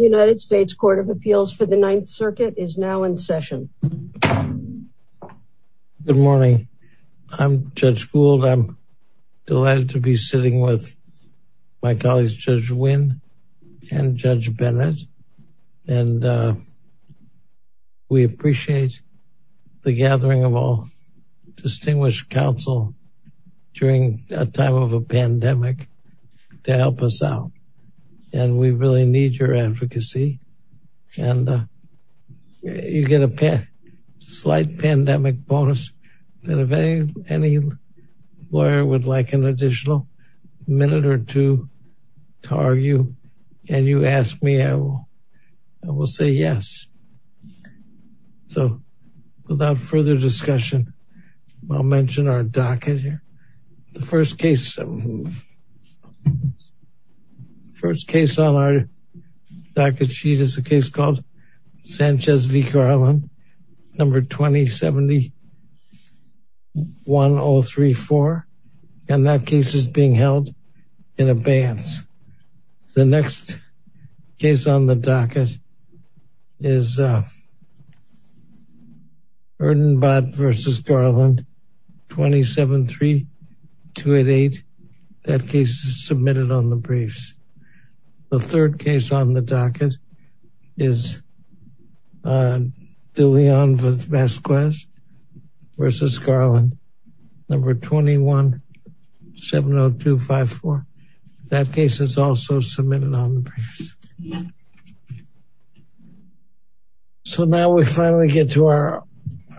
United States Court of Appeals for the Ninth Circuit is now in session. Good morning. I'm Judge Gould. I'm delighted to be sitting with my colleagues Judge Wynn and Judge Bennett. And we appreciate the gathering of all distinguished counsel during a time of a pandemic to help us out. And we really need your advocacy. And you get a slight pandemic bonus. And if any lawyer would like an additional minute or two to argue and you ask me, I will say yes. So without further discussion, I'll mention our docket here. The first case, first case on our docket sheet is a case called Sanchez v. Garland, number 20701034. And that case is being held in abeyance. The next case on the docket is Erdenbott v. Garland, 273288. That case is submitted on the briefs. The third case on the docket is De Leon v. Vasquez v. Garland, number 2170254. That case is also submitted on the briefs. So now we finally get to our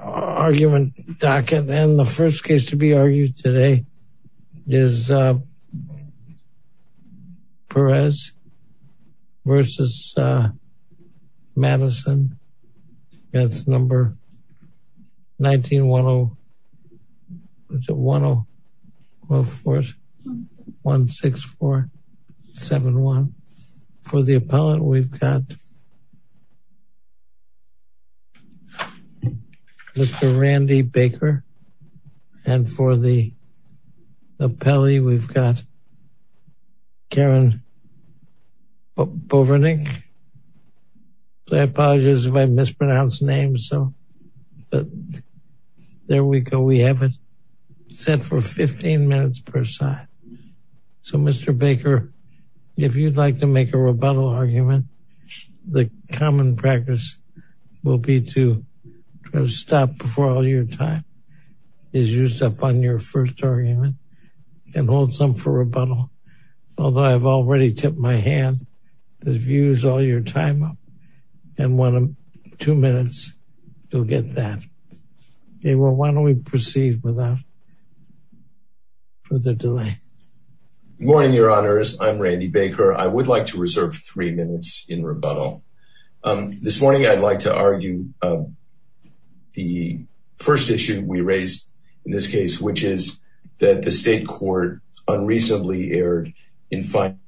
argument docket. And the first case to be argued today is Perez v. Madison, that's number 191016471. For the appellant, we've got Mr. Randy Baker. And for the appellee, we've got Karen Bovernick. I apologize if I mispronounce names. So there we go. We have it set for 15 minutes per side. So Mr. Baker, if you'd like to make a rebuttal argument, the common practice will be to stop before all your time is used up on your first argument and hold some for rebuttal. Although I've already tipped my hand, the view's all your time up. And two minutes, you'll get that. Okay, well, why don't we proceed without further delay? Morning, your honors. I'm Randy Baker. I would like to reserve three minutes in rebuttal. This morning, I'd like to argue the first issue we raised in this case, which is that the state court unreasonably erred in finding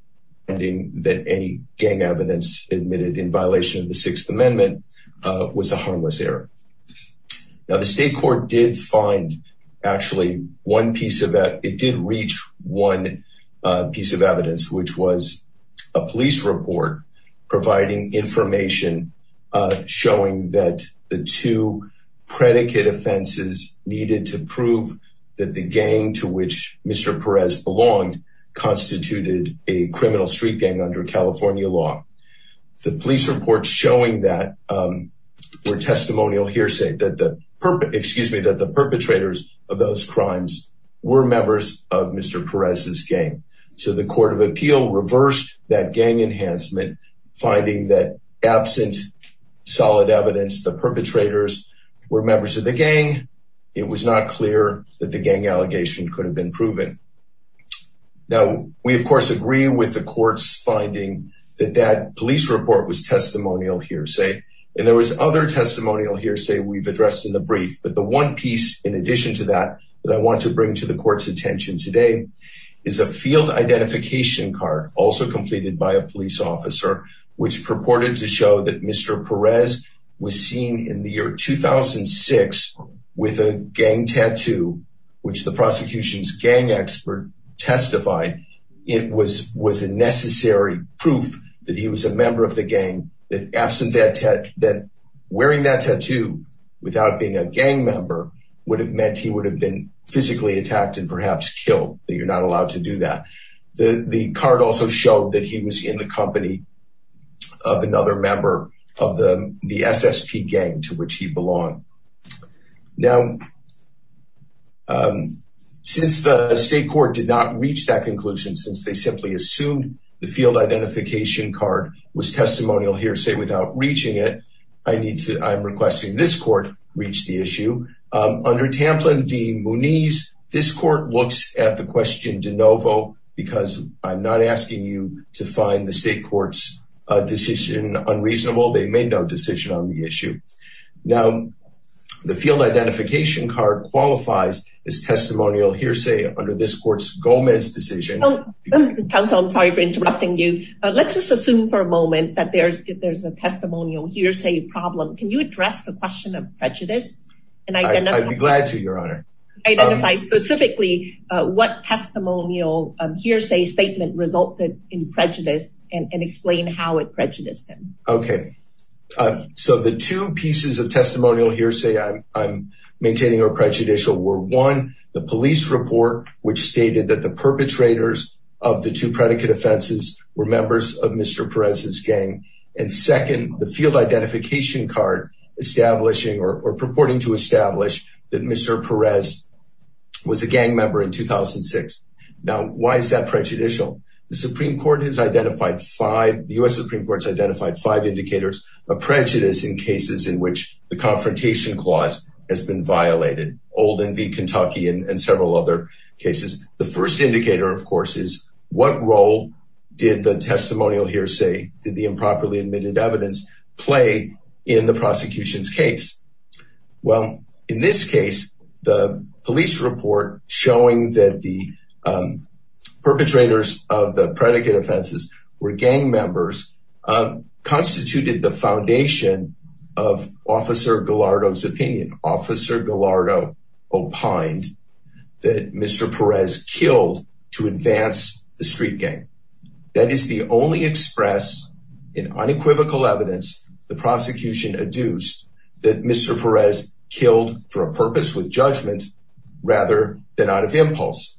that any gang evidence admitted in violation of the Sixth Amendment was a harmless error. Now, the state court did reach one piece of evidence, which was a police report providing information showing that the two predicate offenses needed to prove that the gang to which Mr. Perez belonged constituted a criminal street gang under California law. The police reports showing that were testimonial hearsay, that the perpetrators of those crimes were members of Mr. Perez's gang. So the court of appeal reversed that gang enhancement, finding that absent solid evidence, the perpetrators were members of the gang. It was not clear that the gang allegation could have been proven. Now, we, of course, agree with the court's finding that that police report was testimonial hearsay. And there was other testimonial hearsay we've addressed in the brief. But the one piece, in addition to that, that I want to bring to the court's attention today is a field identification card, also completed by a police officer, which purported to show that Mr. Perez was seen in the year 2006 with a gang tattoo, which the prosecution's gang expert testified it was a necessary proof that he was a member of the gang, that wearing that tattoo without being a gang member would have meant he would have been physically attacked and perhaps killed, that you're not allowed to do that. The card also showed that he was in the company of another member of the SSP gang to which he belonged. Now, since the state court did not reach that conclusion, since they simply assumed the field identification card was testimonial hearsay without reaching it, I need to, I'm requesting this court reach the issue. Under Tamplin v. Munez, this court looks at the question de novo because I'm not asking you to find the state court's decision unreasonable. They made no decision on the issue. Now, the field identification card qualifies as testimonial hearsay under this court's Gomez decision. Counsel, I'm sorry for interrupting you. Let's just assume for a moment that there's a testimonial hearsay problem. Can you address the question of prejudice? I'd be glad to, Your Honor. Identify specifically what testimonial hearsay statement resulted in prejudice and explain how it prejudiced him. Okay, so the two testimonial hearsay I'm maintaining or prejudicial were one, the police report, which stated that the perpetrators of the two predicate offenses were members of Mr. Perez's gang. And second, the field identification card establishing or purporting to establish that Mr. Perez was a gang member in 2006. Now, why is that prejudicial? The Supreme Court has identified five, the U.S. Supreme Court has identified five indicators of prejudice in cases in which the confrontation clause has been violated, Old and V. Kentucky and several other cases. The first indicator, of course, is what role did the testimonial hearsay, did the improperly admitted evidence play in the prosecution's case? Well, in this case, the police report showing that the gang members constituted the foundation of Officer Gallardo's opinion. Officer Gallardo opined that Mr. Perez killed to advance the street gang. That is the only express in unequivocal evidence the prosecution adduced that Mr. Perez killed for a purpose with judgment rather than out of impulse.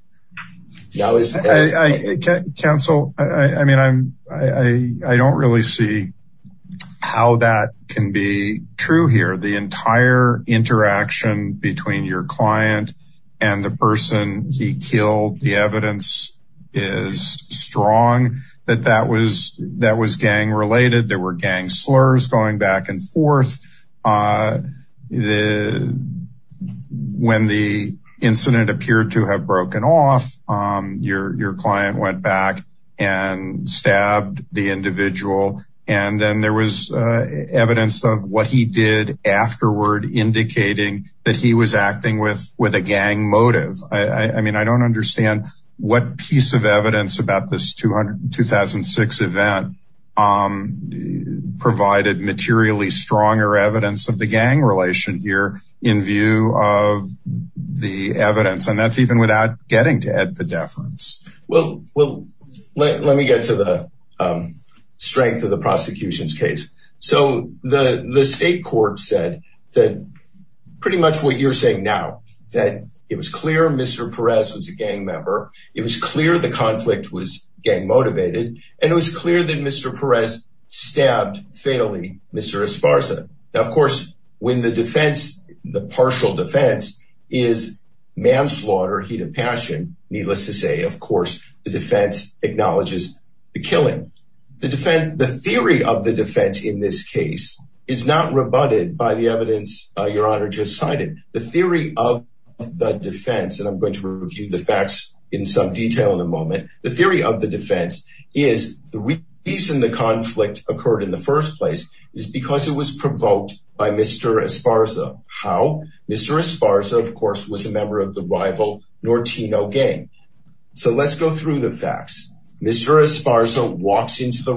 Counsel, I mean, I don't really see how that can be true here. The entire interaction between your client and the person he killed, the evidence is strong that that was gang related. There were gang slurs going back and forth. When the incident appeared to have broken off, your client went back and stabbed the individual, and then there was evidence of what he did afterward indicating that he was acting with a gang motive. I mean, I don't understand what piece of evidence about this 2006 event provided materially stronger evidence of the gang relation here in view of the evidence, and that's even without getting to add the deference. Let me get to the strength of the It was clear Mr. Perez was a gang member. It was clear the conflict was gang motivated, and it was clear that Mr. Perez stabbed, fatally, Mr. Esparza. Now, of course, when the defense, the partial defense, is manslaughter, heat of passion, needless to say, of course, the defense acknowledges the killing. The theory of the defense in this case is not rebutted by the evidence your honor just cited. The theory of the defense, and I'm going to review the facts in some detail in a moment, the theory of the defense is the reason the conflict occurred in the first place is because it was provoked by Mr. Esparza. How? Mr. Esparza, of course, was a member of the rival Nortino gang. So let's go through the facts. Mr. Esparza walks into the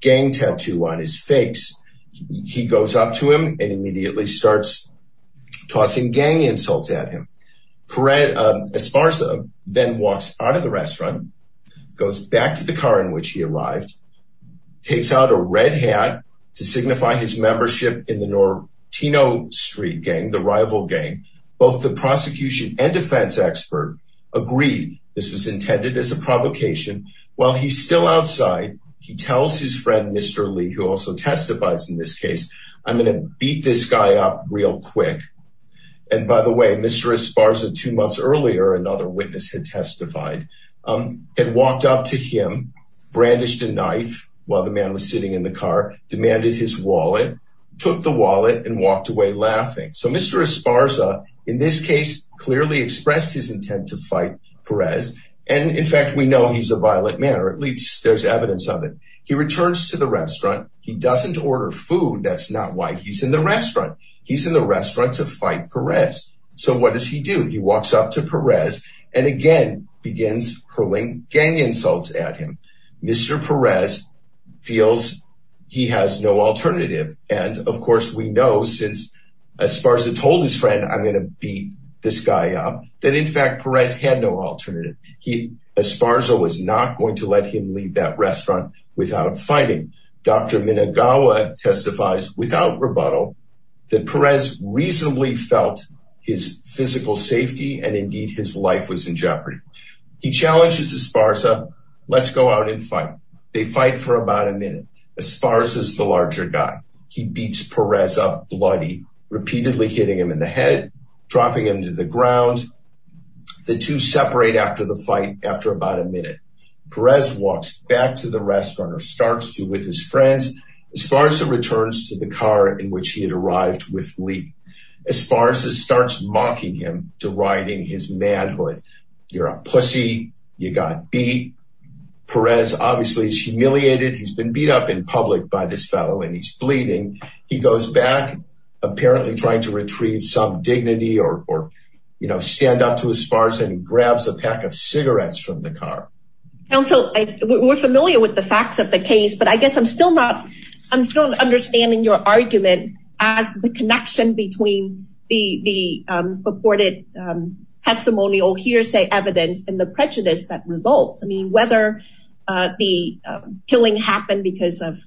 gang tattoo on his face. He goes up to him and immediately starts tossing gang insults at him. Esparza then walks out of the restaurant, goes back to the car in which he arrived, takes out a red hat to signify his membership in the Nortino street gang, the rival gang. Both the prosecution and defense expert agreed this was intended as a provocation while he's outside. He tells his friend Mr. Lee, who also testifies in this case, I'm going to beat this guy up real quick. And by the way, Mr. Esparza, two months earlier, another witness had testified, had walked up to him, brandished a knife while the man was sitting in the car, demanded his wallet, took the wallet and walked away laughing. So Mr. Esparza, in this case, clearly expressed his there's evidence of it. He returns to the restaurant. He doesn't order food. That's not why he's in the restaurant. He's in the restaurant to fight Perez. So what does he do? He walks up to Perez and again begins hurling gang insults at him. Mr. Perez feels he has no alternative. And of course, we know since Esparza told his friend, I'm going to beat this guy up, that in had no alternative. Esparza was not going to let him leave that restaurant without fighting. Dr. Minagawa testifies without rebuttal that Perez reasonably felt his physical safety and indeed his life was in jeopardy. He challenges Esparza, let's go out and fight. They fight for about a minute. Esparza is the larger guy. He beats Perez up bloody, repeatedly hitting him in the head, dropping him to the ground. The two separate after the fight. After about a minute, Perez walks back to the restaurant or starts to with his friends. Esparza returns to the car in which he had arrived with Lee. Esparza starts mocking him to riding his manhood. You're a pussy. You got beat. Perez obviously is humiliated. He's been beat up in public by this fellow and he's bleeding. He goes back, apparently trying to retrieve some dignity or, you know, stand up to Esparza and grabs a pack of cigarettes from the car. Council, we're familiar with the facts of the case, but I guess I'm still not, I'm still understanding your argument as the connection between the purported testimonial hearsay evidence and the prejudice that results. I mean, whether the killing happened because of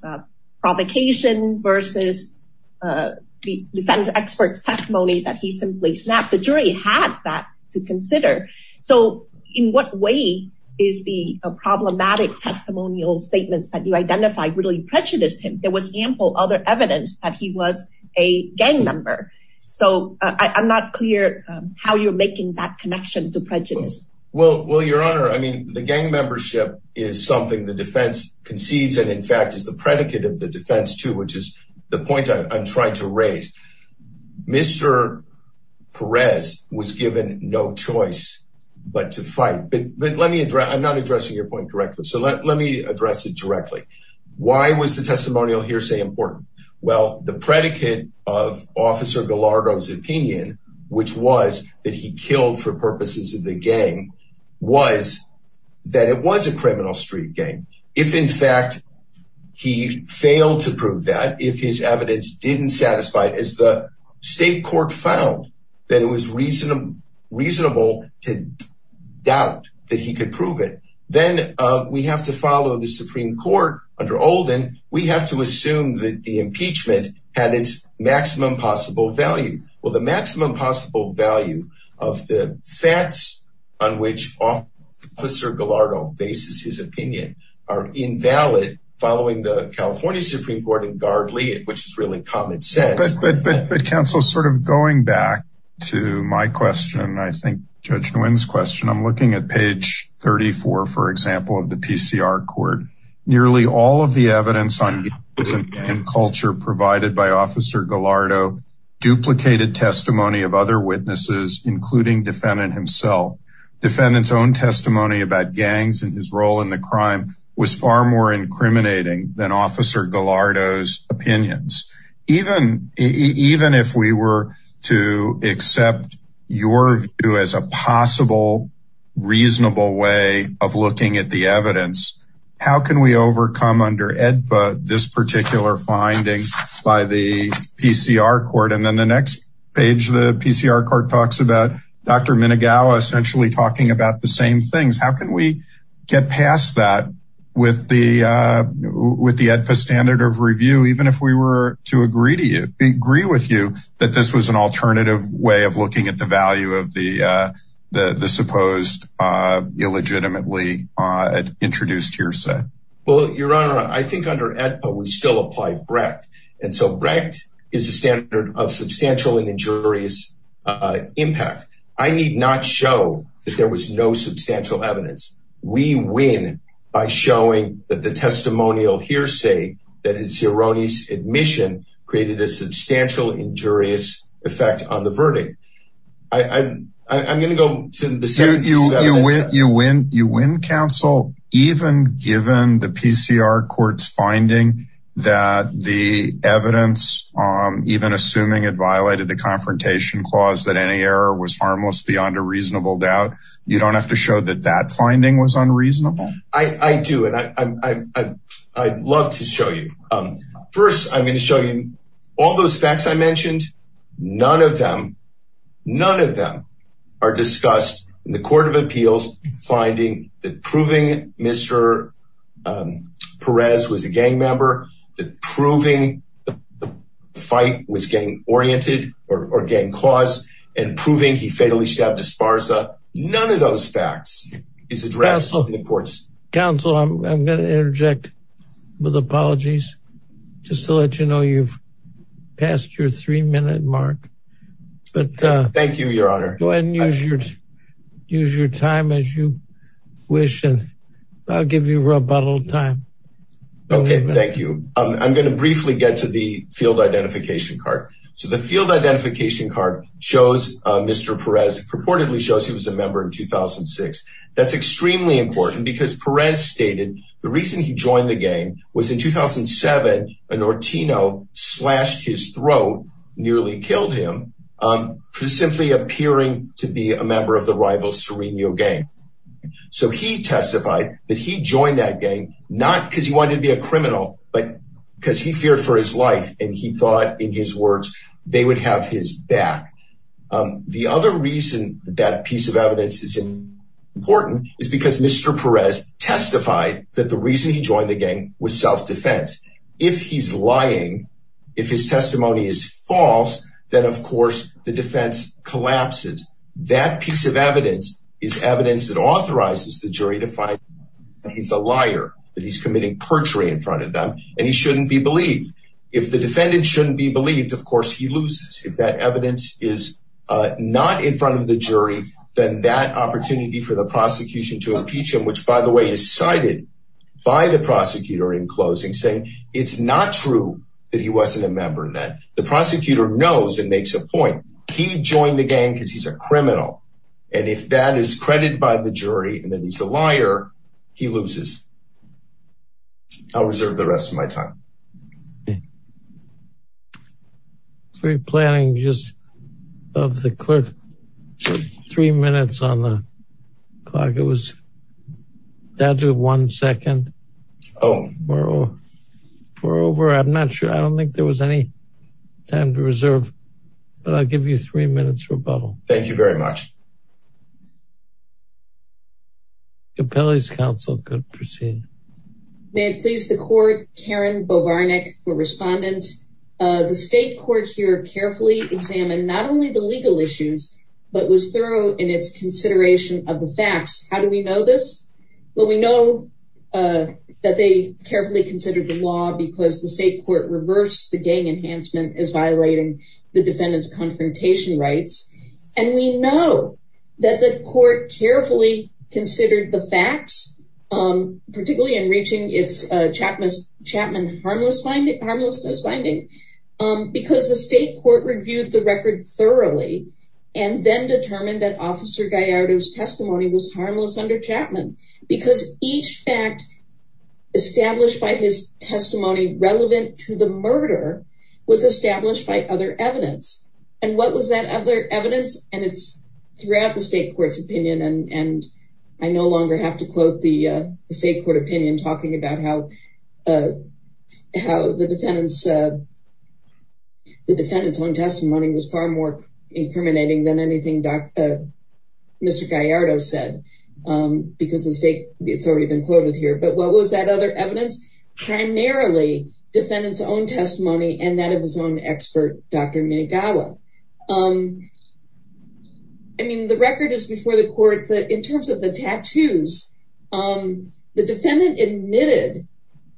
the defense expert's testimony that he simply snapped, the jury had that to consider. So in what way is the problematic testimonial statements that you identified really prejudiced him? There was ample other evidence that he was a gang member. So I'm not clear how you're making that connection to prejudice. Well, your honor, I mean, the gang membership is something the defense concedes and in fact is the predicate of the defense too, which is the point I'm trying to raise. Mr. Perez was given no choice but to fight. But let me address, I'm not addressing your point correctly. So let me address it directly. Why was the testimonial hearsay important? Well, the predicate of officer Gallardo's opinion, which was that he killed for purposes of the gang, was that it was a criminal street gang. If in fact he failed to prove that, if his evidence didn't satisfy it, as the state court found that it was reasonable to doubt that he could prove it, then we have to follow the Supreme Court under Oldham. We have to assume that the impeachment had its maximum possible value. Well, the maximum possible value of the facts on which officer Gallardo bases his opinion are invalid following the California Supreme Court in Gardley, which is really common sense. But counsel, sort of going back to my question, I think Judge Nguyen's question, I'm looking at page 34, for example, of the PCR court. Nearly all of the evidence on by officer Gallardo duplicated testimony of other witnesses, including defendant himself. Defendant's own testimony about gangs and his role in the crime was far more incriminating than officer Gallardo's opinions. Even if we were to accept your view as a possible, reasonable way of looking at the evidence, how can we overcome under AEDPA this particular finding by the PCR court? And then the next page, the PCR court talks about Dr. Minagawa essentially talking about the same things. How can we get past that with the AEDPA standard of review, even if we were to agree with you that this was an alternative way of looking at the value of the supposed illegitimately introduced hearsay? Well, Your Honor, I think under AEDPA we still apply BRECT. And so BRECT is a standard of substantial and injurious impact. I need not show that there was no substantial evidence. We win by showing that the testimonial hearsay, that it's erroneous admission, created a substantial injurious effect on the verdict. I'm going to go to the second. You win counsel, even given the PCR court's finding that the evidence, even assuming it violated the confrontation clause, that any error was harmless beyond a reasonable doubt. You don't have to show that that finding was unreasonable. I do. And I'd love to show you. First, I'm going to show you all those facts I mentioned. None of them, none of them are discussed in the court of appeals finding that proving Mr. Perez was a gang member, that proving the fight was gang oriented or gang clause and proving he fatally stabbed Esparza. None of those facts is addressed in the courts. Counsel, I'm going to mark. Thank you, Your Honor. Go ahead and use your time as you wish. And I'll give you a little time. Okay, thank you. I'm going to briefly get to the field identification card. So the field identification card shows Mr. Perez purportedly shows he was a member in 2006. That's extremely important because Perez stated the reason he joined the gang was in 2007, an Ortino slashed his throat nearly killed him for simply appearing to be a member of the rival Sereno gang. So he testified that he joined that gang, not because he wanted to be a criminal, but because he feared for his life. And he thought in his words, they would have his back. The other reason that piece of evidence is important is because Mr. Perez testified that the reason he joined the gang was self defense. If he's lying, if his testimony is false, then of course, the defense collapses. That piece of evidence is evidence that authorizes the jury to find he's a liar, that he's committing perjury in front of them. And he shouldn't be believed. If the defendant shouldn't be believed, of course he loses. If that evidence is not in front of the jury, then that opportunity for the prosecution to impeach him, which by the way, is cited by the prosecutor in closing saying it's not true that he wasn't a member that the prosecutor knows and makes a point. He joined the gang because he's a criminal. And if that is credited by the jury, and then he's a liar, he loses. I'll reserve the rest of my time. Okay. Free planning just of the clerk. Three minutes on the clock. It was down to one second. Oh, we're over. I'm not sure. I don't think there was any time to reserve. But I'll give you three minutes rebuttal. Thank you very much. Capelli's counsel could proceed. May it please the court, Karen Bovarnik, for respondent. The state court here carefully examined not only the legal issues, but was thorough in its consideration of the facts. How do we know this? Well, we know that they carefully considered the law because the state court reversed the gang enhancement as violating the defendant's confrontation rights. And we know that the court carefully considered the facts, particularly in reaching its Chapman harmlessness finding because the state court reviewed the record thoroughly and then determined that Officer Gallardo's testimony was harmless under Chapman because each fact established by his testimony relevant to the murder was established by other evidence. And what was that other evidence? Primarily defendant's own testimony and that of his own expert, Dr. Negawa. Um, I mean, the record is before the court that in terms of the tattoos, um, the defendant admitted,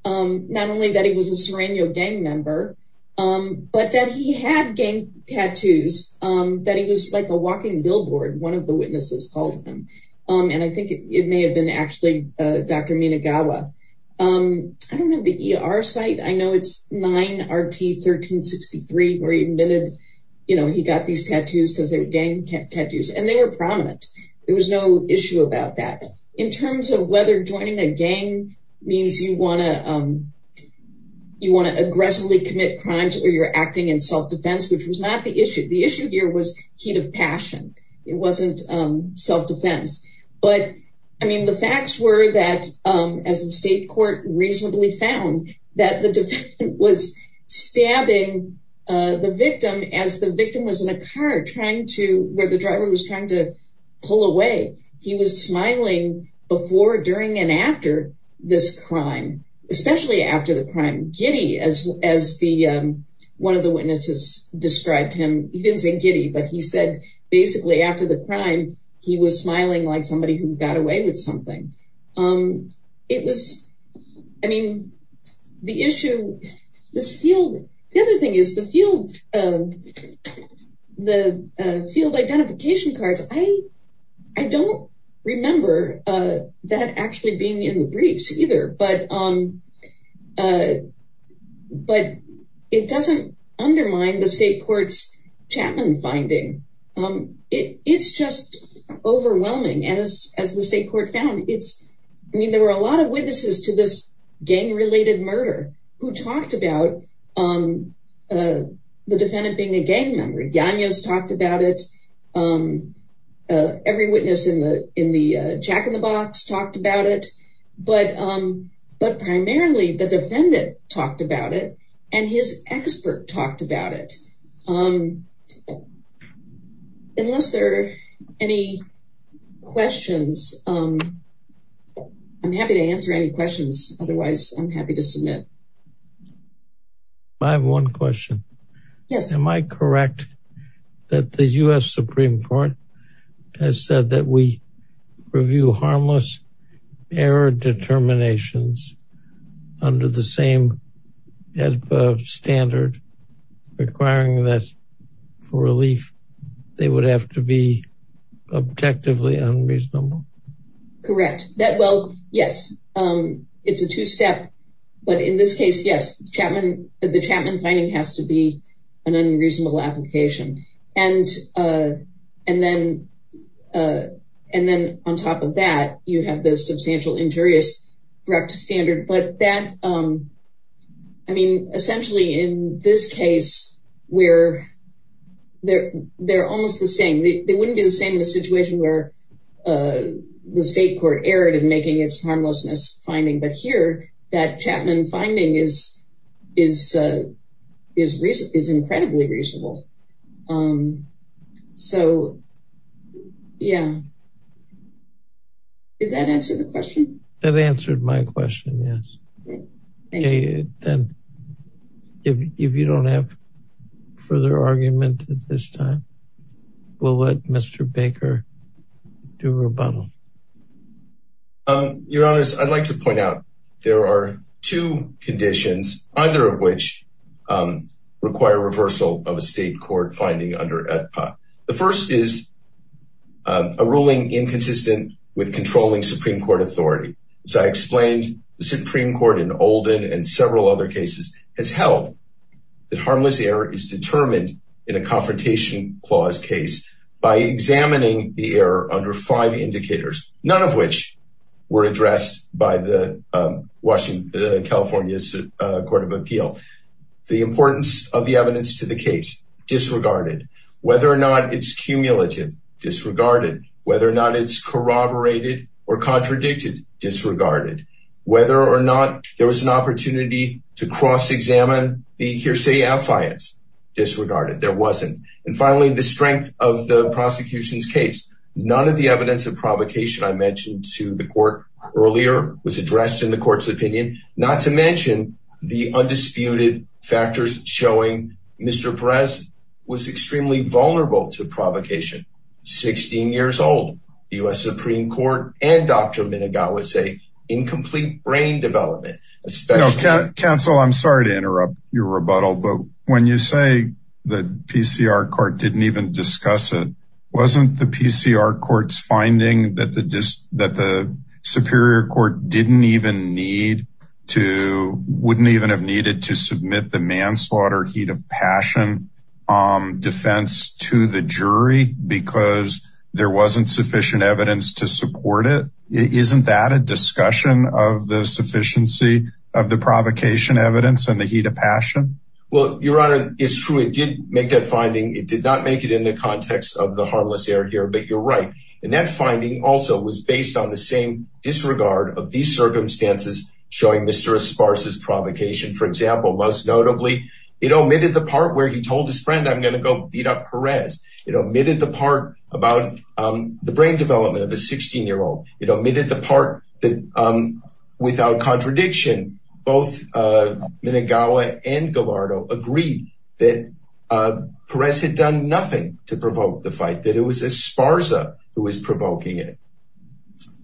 um, not only that he was a Sereno gang member, um, but that he had gang tattoos, um, that he was like a walking billboard. One of the witnesses called him. Um, and I think it may have been actually, uh, Dr. Negawa. Um, I don't know the ER site. I know it's 9RT1363 where he admitted, you know, he got these tattoos because they were gang tattoos and they were prominent. There was no issue about that in terms of whether joining a gang means you want to, um, you want to aggressively commit crimes or you're acting in self-defense, which was not the issue. The issue here was heat of passion. It wasn't, um, self But I mean, the facts were that, um, as the state court reasonably found that the defendant was stabbing, uh, the victim as the victim was in a car trying to, where the driver was trying to pull away. He was smiling before, during, and after this crime, especially after the crime. Giddy, as, as the, um, one of the witnesses described him, he didn't say giddy, but he said basically after the crime, he was smiling like somebody who got away with something. Um, it was, I mean, the issue, this field, the other thing is the field, um, the, uh, field identification cards. I, I don't remember, uh, that actually being in the briefs but, um, uh, but it doesn't undermine the state court's Chapman finding. Um, it, it's just overwhelming as, as the state court found it's, I mean, there were a lot of witnesses to this gang related murder who talked about, um, uh, the defendant being a gang member. Daniels talked about it. Um, uh, every witness in the, in the, uh, Jack in the Box talked about it, but, um, but primarily the defendant talked about it and his expert talked about it. Um, unless there are any questions, um, I'm happy to answer any questions. Otherwise I'm happy to submit. I have one question. Yes. Am I correct? That the U.S. Supreme Court has said that we review harmless error determinations under the same standard requiring that for relief, they would have to be objectively unreasonable? Correct. That, well, yes. Um, it's a two-step, but in this case, yes, Chapman, the Chapman finding has to be an unreasonable application. And, uh, and then, uh, and then on top of that, you have the substantial injurious Brecht standard, but that, um, I mean, essentially in this case where they're, they're almost the same, they wouldn't be the same in a situation where, uh, the state court erred in making its harmlessness finding, but here that Chapman finding is, is, uh, is reason is incredibly reasonable. Um, so yeah. Did that answer the question? That answered my question. Yes. Okay. Then if you don't have further argument at this time, we'll let Mr. Baker do rebuttal. Um, you know, as I'd like to point out, there are two conditions, either of which, um, require reversal of a state court finding under AEDPA. The first is, um, a ruling inconsistent with controlling Supreme Court authority. As I explained, the Supreme Court in Olden and several other cases has held that harmless error is determined in a confrontation clause case by examining the error under five indicators, none of which were addressed by the, um, Washington, uh, California's, uh, Court of Appeal. The importance of the evidence to the case disregarded whether or not it's cumulative disregarded, whether or not it's corroborated or contradicted disregarded, whether or not there was an opportunity to cross-examine the hearsay affiance disregarded. There wasn't. And finally, the strength of the prosecution's case, none of the evidence of provocation I mentioned to the court earlier was addressed in the court's opinion, not to mention the undisputed factors showing Mr. Perez was extremely vulnerable to provocation. 16 years old, the U.S. Supreme Court and Dr. Minigaw was a incomplete brain development. Counsel, I'm sorry to interrupt your rebuttal, but when you say the PCR court didn't even discuss it, wasn't the PCR court's finding that the superior court didn't even need to, wouldn't even have needed to submit the manslaughter heat of passion, um, defense to the jury because there wasn't sufficient evidence to support it. Isn't that a discussion of the efficiency of the provocation evidence and the heat of passion? Well, your honor is true. It did make that finding. It did not make it in the context of the harmless error here, but you're right. And that finding also was based on the same disregard of these circumstances showing Mr. Esparza's provocation. For example, most notably, it omitted the part where he told his friend, I'm going to go beat up Perez. It omitted the part about, um, the brain development of a 16 year old. It omitted the part that, um, without contradiction, both, uh, Minigaw and Gallardo agreed that, uh, Perez had done nothing to provoke the fight, that it was Esparza who was provoking it.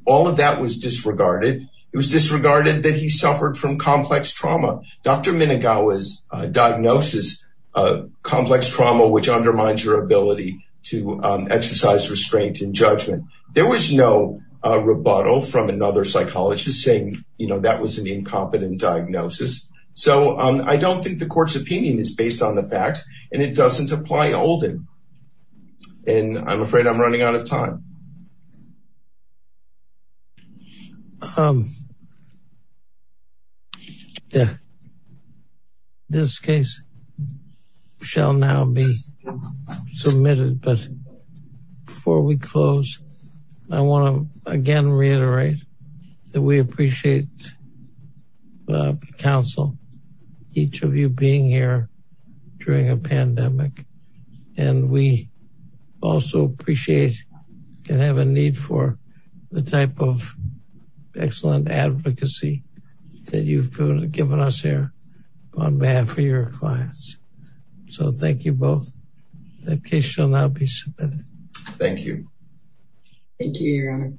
All of that was disregarded. It was disregarded that he suffered from complex trauma. Dr. Minigaw's diagnosis, uh, complex trauma, which undermines your ability to, um, exercise restraint and a rebuttal from another psychologist saying, you know, that was an incompetent diagnosis. So, um, I don't think the court's opinion is based on the facts and it doesn't apply olden. And I'm afraid I'm running out of time. Um, yeah, this case shall now be submitted, but before we close, I want to again, reiterate that we appreciate the council, each of you being here during a pandemic. And we also appreciate and have a need for the type of excellent advocacy that you've given us here on behalf of your clients. So thank you both. The case shall now be submitted. Thank you. Thank you, Your Honor.